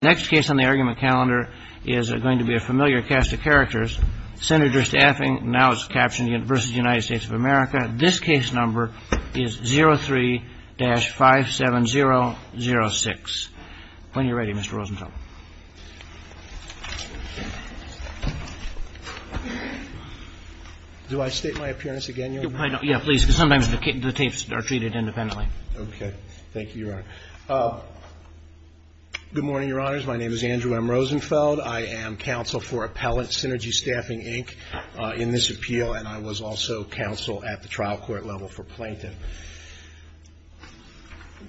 The next case on the argument calendar is going to be a familiar cast of characters. Senator Staffing, now it's captioned v. United States of America. This case number is 03-57006. When you're ready, Mr. Rosenthal. Do I state my appearance again, Your Honor? Yeah, please, because sometimes the tapes are treated independently. Okay. Thank you, Your Honor. Good morning, Your Honors. My name is Andrew M. Rosenfeld. I am counsel for Appellant Synergy Staffing, Inc. in this appeal, and I was also counsel at the trial court level for Plaintiff.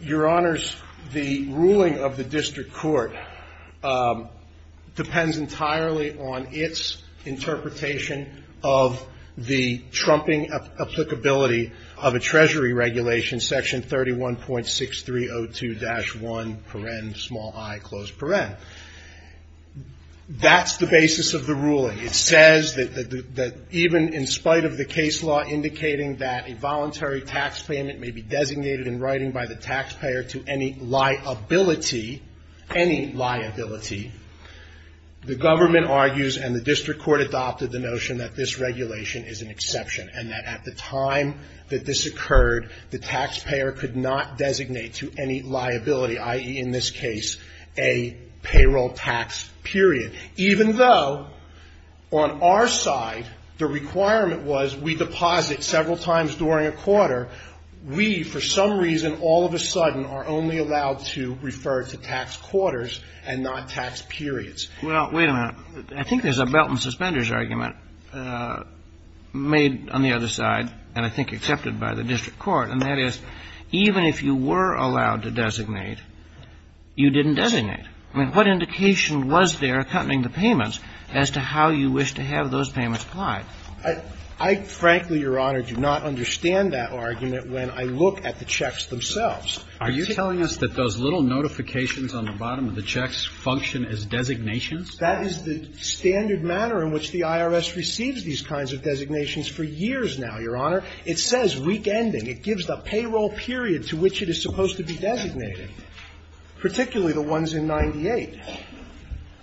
Your Honors, the ruling of the district court depends entirely on its interpretation of the trumping applicability of a treasury regulation, section 31.6302-1, paren, small i, closed paren. That's the basis of the ruling. It says that even in spite of the case law indicating that a voluntary tax payment may be designated in writing by the taxpayer to any liability, any liability, the government argues and the district court adopted the notion that this regulation is an exception and that at the time that this occurred, the taxpayer could not designate to any liability, i.e., in this case, a payroll tax period. Even though on our side the requirement was we deposit several times during a quarter, we for some reason all of a sudden are only allowed to refer to tax quarters and not tax periods. Well, wait a minute. I think there's a belt-and-suspenders argument made on the other side and I think accepted by the district court, and that is even if you were allowed to designate, you didn't designate. I mean, what indication was there, accompanying the payments, as to how you wish to have those payments applied? I frankly, Your Honor, do not understand that argument when I look at the checks themselves. Are you telling us that those little notifications on the bottom of the checks function as designations? That is the standard manner in which the IRS receives these kinds of designations for years now, Your Honor. It says week ending. It gives the payroll period to which it is supposed to be designated, particularly the ones in 98.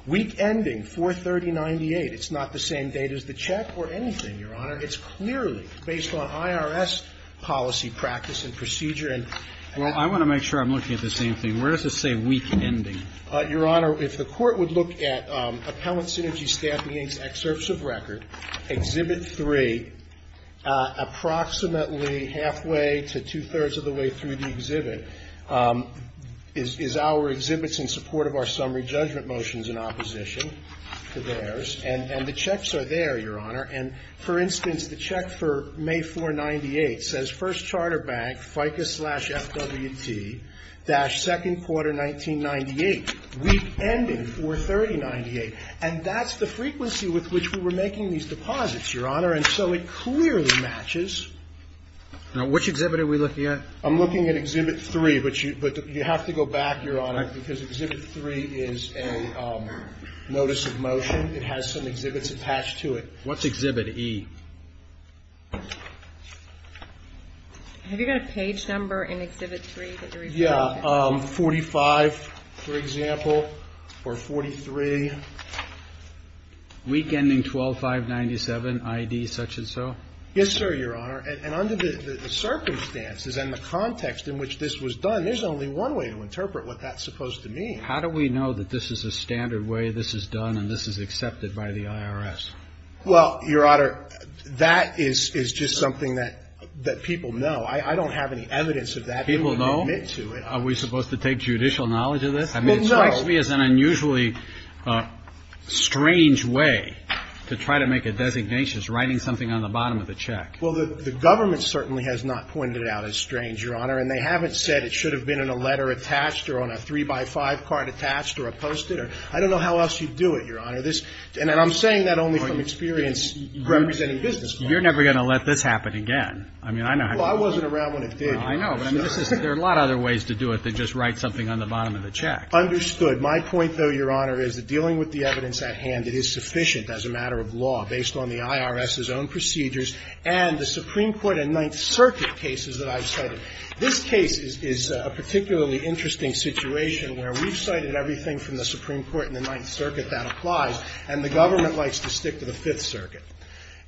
Week ending, 43098. It's not the same date as the check or anything, Your Honor. It's clearly based on IRS policy practice and procedure. Well, I want to make sure I'm looking at the same thing. Where does it say week ending? Your Honor, if the Court would look at Appellant Synergy Staffing Inc.'s excerpts of record, Exhibit 3, approximately halfway to two-thirds of the way through the exhibit is our exhibits in support of our summary judgment motions in opposition to theirs, and the checks are there, Your Honor. And for instance, the check for May 498 says First Charter Bank FICA slash FWT dash second quarter 1998. Week ending, 43098. And that's the frequency with which we were making these deposits, Your Honor. And so it clearly matches. Now, which exhibit are we looking at? I'm looking at Exhibit 3. But you have to go back, Your Honor, because Exhibit 3 is a notice of motion. It has some exhibits attached to it. What's Exhibit E? Have you got a page number in Exhibit 3 that you're referring to? Yeah, 45, for example, or 43. Week ending, 12597, ID such and so? Yes, sir, Your Honor. And under the circumstances and the context in which this was done, there's only one way to interpret what that's supposed to mean. How do we know that this is a standard way this is done and this is accepted by the IRS? Well, Your Honor, that is just something that people know. I don't have any evidence of that. People know? Are we supposed to take judicial knowledge of this? Well, no. I mean, it strikes me as an unusually strange way to try to make a designation as writing something on the bottom of the check. Well, the government certainly has not pointed it out as strange, Your Honor. And they haven't said it should have been in a letter attached or on a three-by-five card attached or a Post-it. I don't know how else you do it, Your Honor. And I'm saying that only from experience representing business clients. You're never going to let this happen again. I mean, I know how to do it. Well, I wasn't around when it did. I know. But I mean, there are a lot of other ways to do it than just write something on the bottom of the check. Understood. My point, though, Your Honor, is that dealing with the evidence at hand, it is sufficient as a matter of law based on the IRS's own procedures and the Supreme Court and Ninth Circuit cases that I've cited. This case is a particularly interesting situation where we've cited everything from the Supreme Court and the Ninth Circuit that applies, and the government likes to stick to the Fifth Circuit.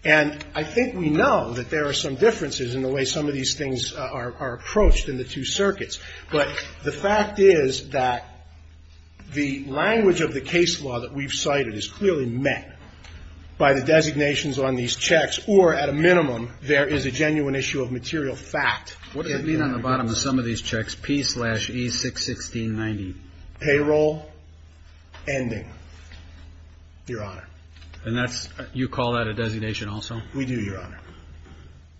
And I think we know that there are some differences in the way some of these things are approached in the two circuits. But the fact is that the language of the case law that we've cited is clearly met by the designations on these checks, or at a minimum, there is a genuine issue of material fact. What does it mean on the bottom of some of these checks, P-slash-E-61690? Payroll ending, Your Honor. And that's you call that a designation also? We do, Your Honor.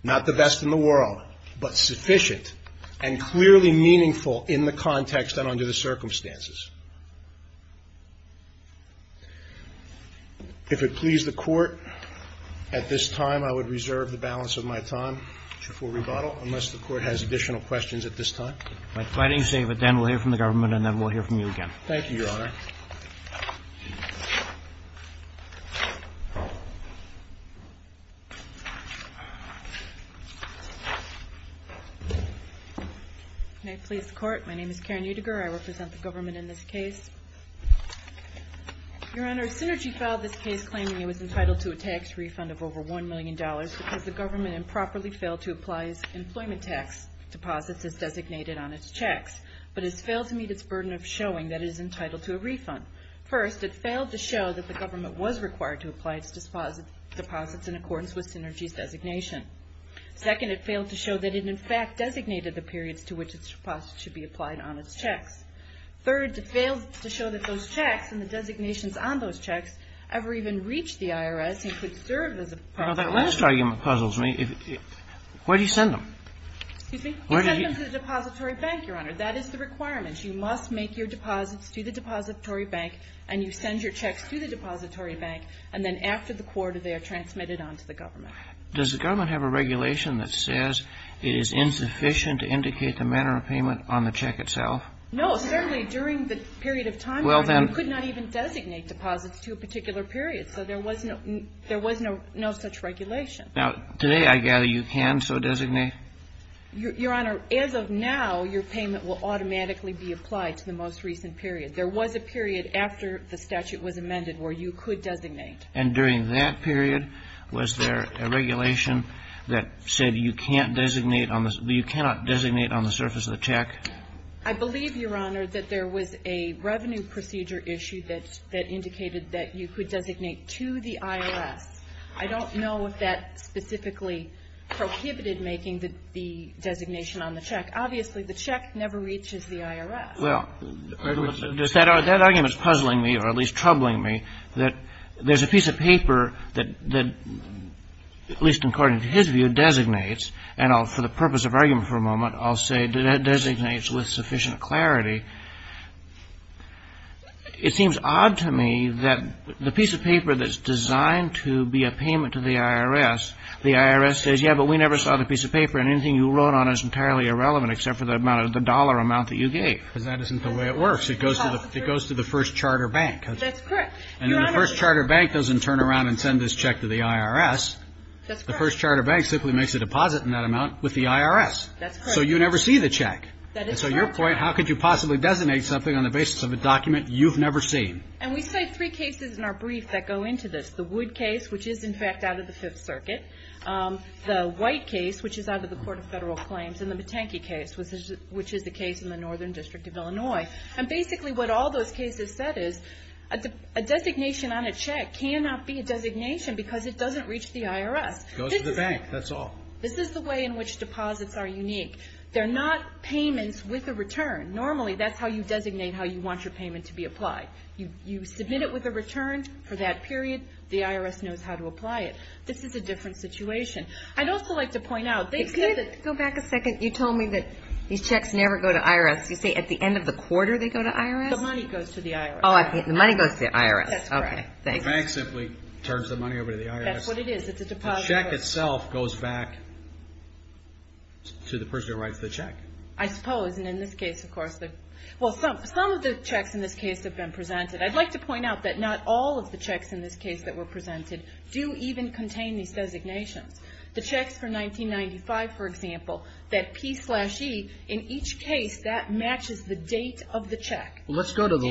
Not the best in the world, but sufficient and clearly meaningful in the context and under the circumstances. If it please the Court at this time, I would reserve the balance of my time for rebuttal unless the Court has additional questions at this time. If I didn't save it, then we'll hear from the government, and then we'll hear from you again. Thank you, Your Honor. May it please the Court? My name is Karen Utiger. I represent the government in this case. Your Honor, Synergy filed this case claiming it was entitled to a tax refund of over $1 million because the government improperly failed to apply its employment tax deposits as designated on its checks, but has failed to meet its burden of showing that it is entitled to a refund. First, it failed to show that the government was required to apply its deposits in accordance with Synergy's designation. Second, it failed to show that it in fact designated the periods to which its deposits should be applied on its checks. Third, it failed to show that those checks and the designations on those checks ever even reached the IRS and could serve as a part of that. That last argument puzzles me. Where do you send them? Excuse me? You send them to the depository bank, Your Honor. That is the requirement. You must make your deposits to the depository bank, and you send your checks to the depository bank, and then after the quarter, they are transmitted on to the government. Does the government have a regulation that says it is insufficient to indicate the manner of payment on the check itself? No. Certainly during the period of time, Your Honor, you could not even designate deposits to a particular period. So there was no such regulation. Now, today I gather you can so designate? Your Honor, as of now, your payment will automatically be applied to the most recent period. There was a period after the statute was amended where you could designate. And during that period, was there a regulation that said you can't designate on the you cannot designate on the surface of the check? I believe, Your Honor, that there was a revenue procedure issue that indicated that you could designate to the IRS. I don't know if that specifically prohibited making the designation on the check. Obviously, the check never reaches the IRS. Well, that argument is puzzling me, or at least troubling me, that there's a piece of paper that, at least according to his view, designates, and for the purpose of argument for a moment, I'll say that it designates with sufficient clarity. It seems odd to me that the piece of paper that's designed to be a payment to the IRS, the IRS says, yeah, but we never saw the piece of paper, and anything you wrote on is entirely irrelevant except for the dollar amount that you gave. Because that isn't the way it works. It goes to the first charter bank. That's correct. And then the first charter bank doesn't turn around and send this check to the IRS. That's correct. The first charter bank simply makes a deposit in that amount with the IRS. That's correct. So you never see the check. That is correct. And so your point, how could you possibly designate something on the basis of a document you've never seen? And we cite three cases in our brief that go into this. The Wood case, which is, in fact, out of the Fifth Circuit. The White case, which is out of the Court of Federal Claims. And the Matanke case, which is the case in the Northern District of Illinois. And basically, what all those cases said is, a designation on a check cannot be a designation because it doesn't reach the IRS. It goes to the bank. That's all. This is the way in which deposits are unique. They're not payments with a return. Normally, that's how you designate how you want your payment to be applied. You submit it with a return for that period. The IRS knows how to apply it. This is a different situation. I'd also like to point out. Go back a second. You told me that these checks never go to IRS. You say at the end of the quarter they go to IRS? The money goes to the IRS. Oh, the money goes to the IRS. That's correct. The bank simply turns the money over to the IRS. That's what it is. It's a deposit. The check itself goes back to the person who writes the check. I suppose. And in this case, of course. Well, some of the checks in this case have been presented. I'd like to point out that not all of the checks in this case that were presented do even contain these designations. The checks for 1995, for example, that P slash E, in each case, that matches the date of the check. Let's go to the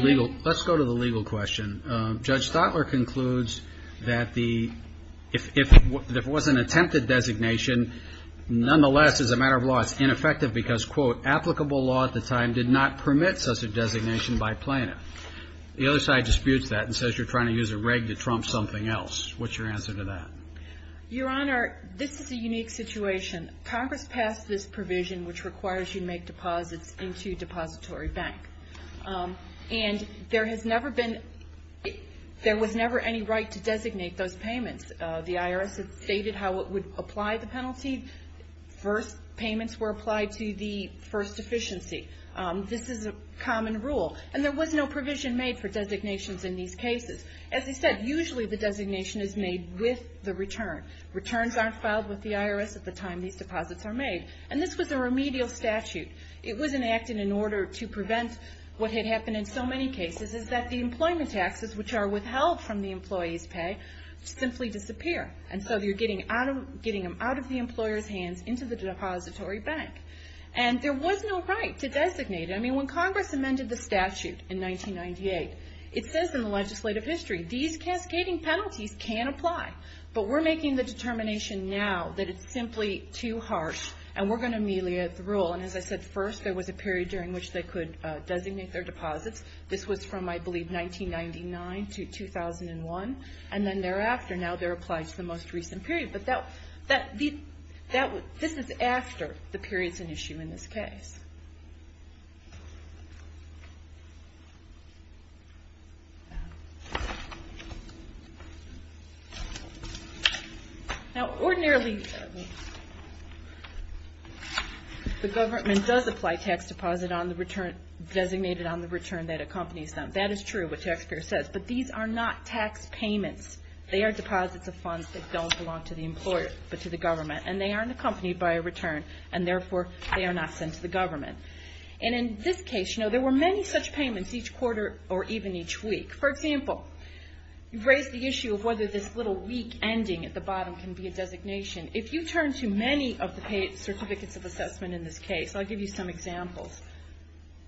legal question. Judge Stotler concludes that if it was an attempted designation, nonetheless, as a matter of law, it's ineffective because, quote, applicable law at the time did not permit such a designation by plaintiff. The other side disputes that and says you're trying to use a reg to trump something else. What's your answer to that? Your Honor, this is a unique situation. Congress passed this provision, which requires you to make deposits into a depository bank. And there has never been, there was never any right to designate those payments. The IRS has stated how it would apply the penalty. First, payments were applied to the first deficiency. This is a common rule. And there was no provision made for designations in these cases. As I said, usually the designation is made with the return. Returns aren't filed with the IRS at the time these deposits are made. And this was a remedial statute. It was enacted in order to prevent what had happened in so many cases, is that the employment taxes, which are withheld from the employee's pay, simply disappear. And so you're getting them out of the employer's hands into the depository bank. And there was no right to designate. I mean, when Congress amended the statute in 1998, it says in the legislative history, these cascading penalties can apply. But we're making the determination now that it's simply too harsh, and we're going to ameliorate the rule. And as I said, first there was a period during which they could designate their deposits. This was from, I believe, 1999 to 2001. And then thereafter, now they're applied to the most recent period. But this is after the period's an issue in this case. Now, ordinarily, the government does apply tax deposit designated on the return that accompanies them. That is true, what Taxpayer says. But these are not tax payments. They are deposits of funds that don't belong to the employer, but to the government. And they aren't accompanied by a return. And therefore, they are not sent to the government. And in this case, you know, there were many such payments each quarter or even each week. For example, you've raised the issue of whether this little week ending at the bottom can be a designation. If you turn to many of the certificates of assessment in this case, I'll give you some examples.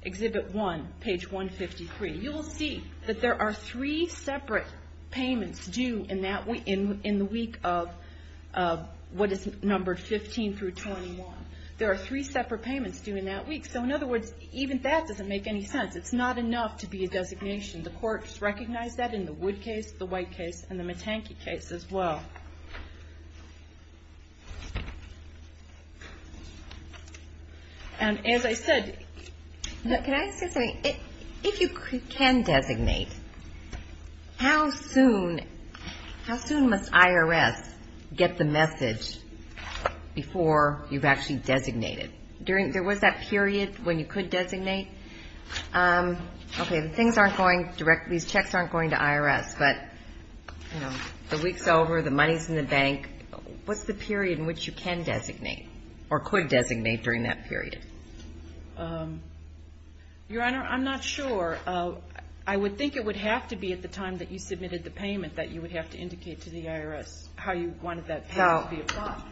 Exhibit 1, page 153. You will see that there are three separate payments due in the week of what is numbered 15 through 21. There are three separate payments due in that week. So in other words, even that doesn't make any sense. It's not enough to be a designation. The courts recognize that in the Wood case, the White case, and the Matanke case as well. And as I said ‑‑ Can I say something? If you can designate, how soon must IRS get the message before you've actually designated? There was that period when you could designate. Okay. The things aren't going directly. These checks aren't going to IRS. But, you know, the week's over, the money's in the bank. What's the period in which you can designate or could designate during that period? Your Honor, I'm not sure. I would think it would have to be at the time that you submitted the payment that you would have to indicate to the IRS how you wanted that payment to be applied. So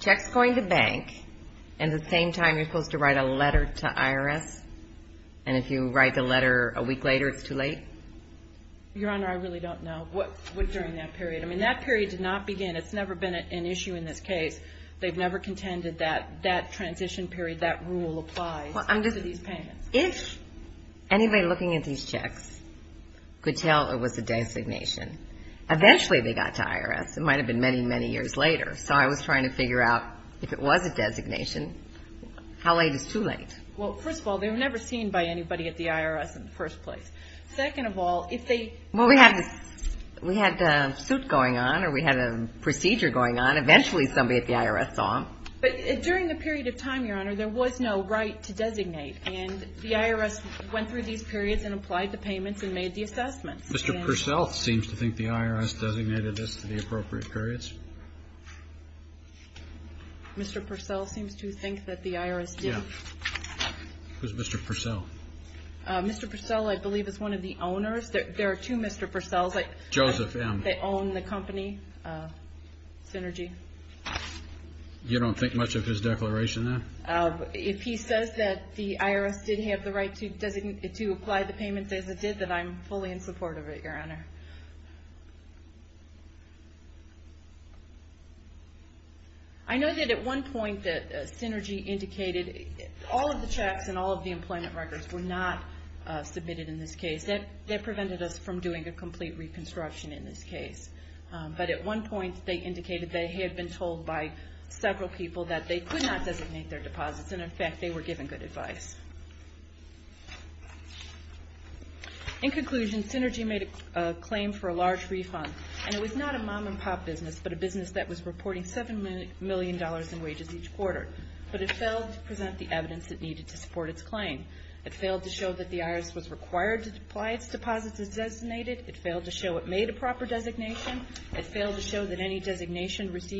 check's going to bank, and at the same time you're supposed to write a letter to IRS? And if you write the letter a week later, it's too late? Your Honor, I really don't know what during that period. I mean, that period did not begin. It's never been an issue in this case. They've never contended that that transition period, that rule applies to these payments. If anybody looking at these checks could tell it was a designation, eventually they got to IRS. It might have been many, many years later. So I was trying to figure out if it was a designation, how late is too late? Well, first of all, they were never seen by anybody at the IRS in the first place. Second of all, if they – Well, we had a suit going on, or we had a procedure going on. Eventually somebody at the IRS saw them. But during the period of time, Your Honor, there was no right to designate, and the IRS went through these periods and applied the payments and made the assessments. Mr. Purcell seems to think the IRS designated this to the appropriate periods. Mr. Purcell seems to think that the IRS did? Yeah. Who's Mr. Purcell? Mr. Purcell, I believe, is one of the owners. There are two Mr. Purcells. Joseph M. They own the company, Synergy. You don't think much of his declaration then? If he says that the IRS did have the right to apply the payments as it did, then I'm fully in support of it, Your Honor. I know that at one point Synergy indicated all of the checks and all of the employment records were not submitted in this case. That prevented us from doing a complete reconstruction in this case. But at one point they indicated they had been told by several people that they could not designate their deposits, and in fact they were given good advice. In conclusion, Synergy made a claim for a large refund, and it was not a mom-and-pop business, but a business that was reporting $7 million in wages each quarter. But it failed to present the evidence it needed to support its claim. It failed to show that the IRS was required to apply its deposits as designated. It failed to show it made a proper designation. It failed to show that any designation was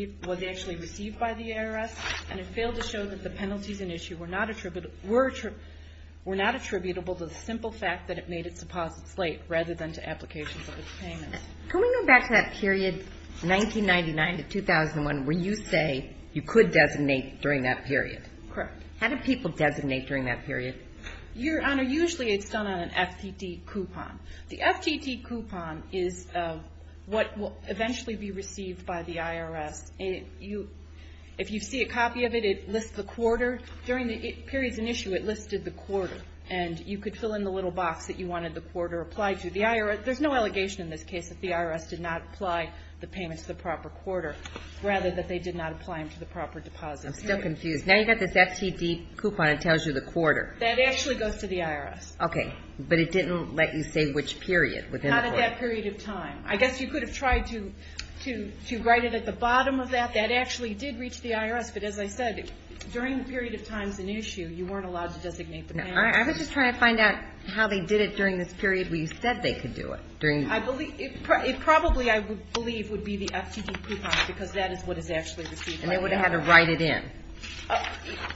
actually received by the IRS. It was not attributable to the simple fact that it made its deposits late rather than to applications of its payments. Can we go back to that period, 1999 to 2001, where you say you could designate during that period? Correct. How did people designate during that period? Your Honor, usually it's done on an FTT coupon. The FTT coupon is what will eventually be received by the IRS. If you see a copy of it, it lists the quarter. During the periods in issue, it listed the quarter, and you could fill in the little box that you wanted the quarter applied to. There's no allegation in this case that the IRS did not apply the payment to the proper quarter, rather that they did not apply them to the proper deposits. I'm still confused. Now you've got this FTD coupon that tells you the quarter. That actually goes to the IRS. Okay. But it didn't let you say which period within the quarter. Not at that period of time. That actually did reach the IRS. Yes, but as I said, during the period of time it's in issue, you weren't allowed to designate the payment. I was just trying to find out how they did it during this period where you said they could do it. I believe – it probably, I believe, would be the FTD coupon, because that is what is actually received by the IRS. And they would have had to write it in.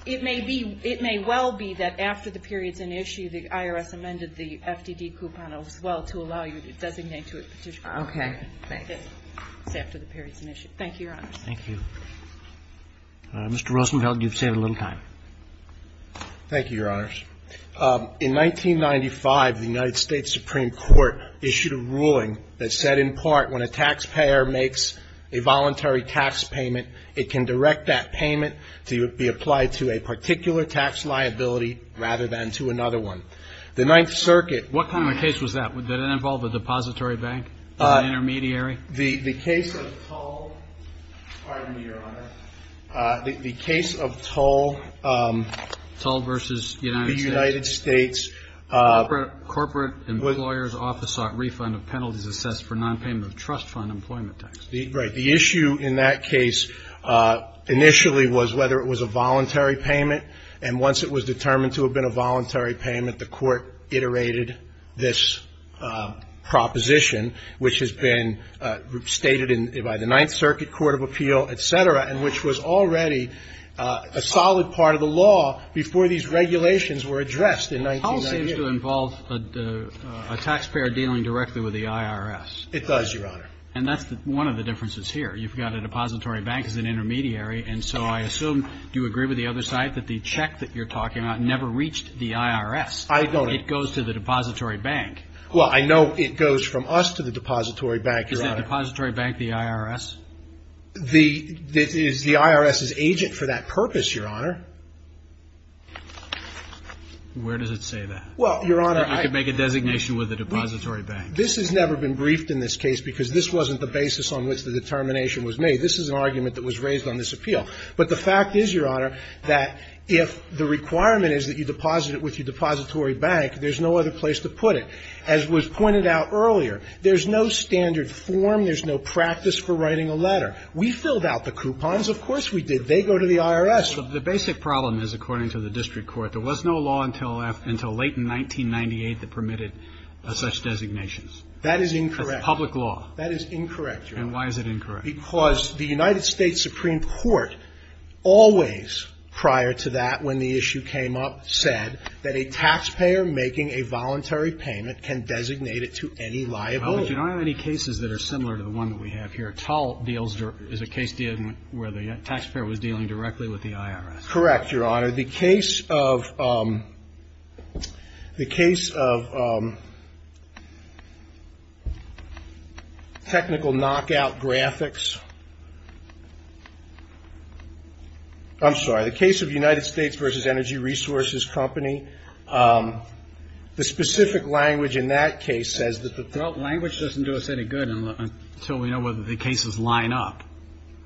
It may be – it may well be that after the period's in issue, the IRS amended the FTD coupon as well to allow you to designate to a petitioner. Okay. It's after the period's in issue. Thank you, Your Honor. Thank you. Mr. Rosenfeld, you've saved a little time. Thank you, Your Honors. In 1995, the United States Supreme Court issued a ruling that said, in part, when a taxpayer makes a voluntary tax payment, it can direct that payment to be applied to a particular tax liability rather than to another one. The Ninth Circuit – What kind of a case was that? Did it involve a depository bank or an intermediary? The case of Tull – pardon me, Your Honor. The case of Tull – Tull v. United States. The United States – Corporate Employer's Office sought refund of penalties assessed for nonpayment of trust fund employment tax. Right. The issue in that case initially was whether it was a voluntary payment. And once it was determined to have been a voluntary payment, the Court iterated this proposition, which has been stated by the Ninth Circuit, court of appeal, et cetera, and which was already a solid part of the law before these regulations were addressed in 1998. Tull seems to involve a taxpayer dealing directly with the IRS. It does, Your Honor. And that's one of the differences here. You've got a depository bank as an intermediary, and so I assume, do you agree with the other side, that the check that you're talking about never reached the IRS? I don't. It goes to the depository bank. Well, I know it goes from us to the depository bank, Your Honor. Is the depository bank the IRS? The IRS is agent for that purpose, Your Honor. Where does it say that? Well, Your Honor, I – You could make a designation with the depository bank. This has never been briefed in this case because this wasn't the basis on which the determination was made. This is an argument that was raised on this appeal. But the fact is, Your Honor, that if the requirement is that you deposit it with your depository bank, there's no other place to put it. As was pointed out earlier, there's no standard form, there's no practice for writing a letter. We filled out the coupons. Of course we did. They go to the IRS. But the basic problem is, according to the district court, there was no law until late in 1998 that permitted such designations. That is incorrect. That's public law. That is incorrect, Your Honor. And why is it incorrect? Because the United States Supreme Court always, prior to that, when the issue came up, said that a taxpayer making a voluntary payment can designate it to any liability. Well, but you don't have any cases that are similar to the one that we have here. Tall deals – is a case dealing – where the taxpayer was dealing directly with the IRS. Correct, Your Honor. Your Honor, the case of – the case of technical knockout graphics – I'm sorry. The case of United States versus Energy Resources Company. The specific language in that case says that the – Well, language doesn't do us any good until we know whether the cases line up.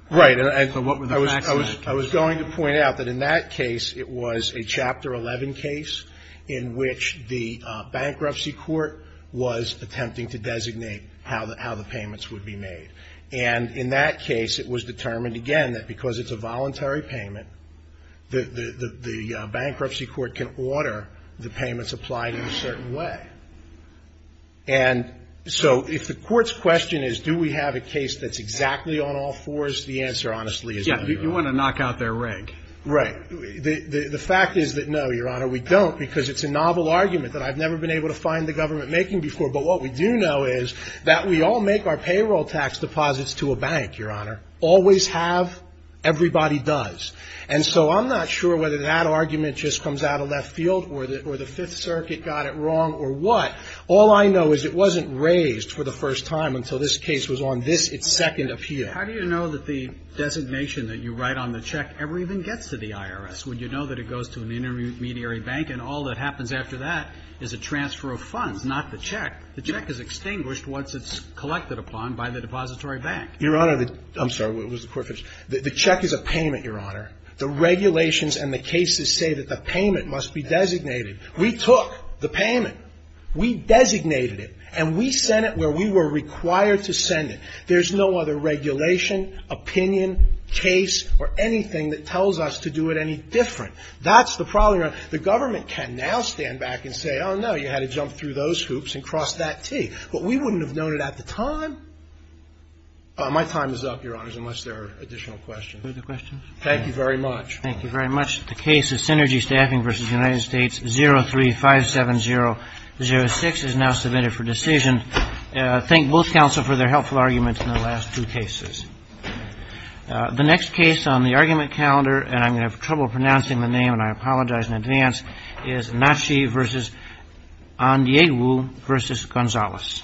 Right. So what were the facts in that case? I was going to point out that in that case, it was a Chapter 11 case in which the bankruptcy court was attempting to designate how the – how the payments would be made. And in that case, it was determined, again, that because it's a voluntary payment, the bankruptcy court can order the payments applied in a certain way. And so if the court's question is, do we have a case that's exactly on all fours, the answer, honestly, is no. You want to knock out their rig. Right. The fact is that, no, Your Honor, we don't because it's a novel argument that I've never been able to find the government making before. But what we do know is that we all make our payroll tax deposits to a bank, Your Honor. Always have. Everybody does. And so I'm not sure whether that argument just comes out of left field or the Fifth Circuit got it wrong or what. All I know is it wasn't raised for the first time until this case was on this, its second appeal. How do you know that the designation that you write on the check ever even gets to the IRS? Would you know that it goes to an intermediary bank and all that happens after that is a transfer of funds, not the check? The check is extinguished once it's collected upon by the depository bank. Your Honor, I'm sorry. Was the court finished? The check is a payment, Your Honor. The regulations and the cases say that the payment must be designated. We took the payment. We designated it. And we sent it where we were required to send it. There's no other regulation, opinion, case, or anything that tells us to do it any different. That's the problem. The government can now stand back and say, oh, no, you had to jump through those hoops and cross that T. But we wouldn't have known it at the time. My time is up, Your Honors, unless there are additional questions. Thank you very much. Thank you very much. The case of Synergy Staffing v. United States 03-570-06 is now submitted for decision. Thank both counsel for their helpful arguments in the last two cases. The next case on the argument calendar, and I'm going to have trouble pronouncing the name, and I apologize in advance, is Nashi v. Andiewu v. Gonzalez.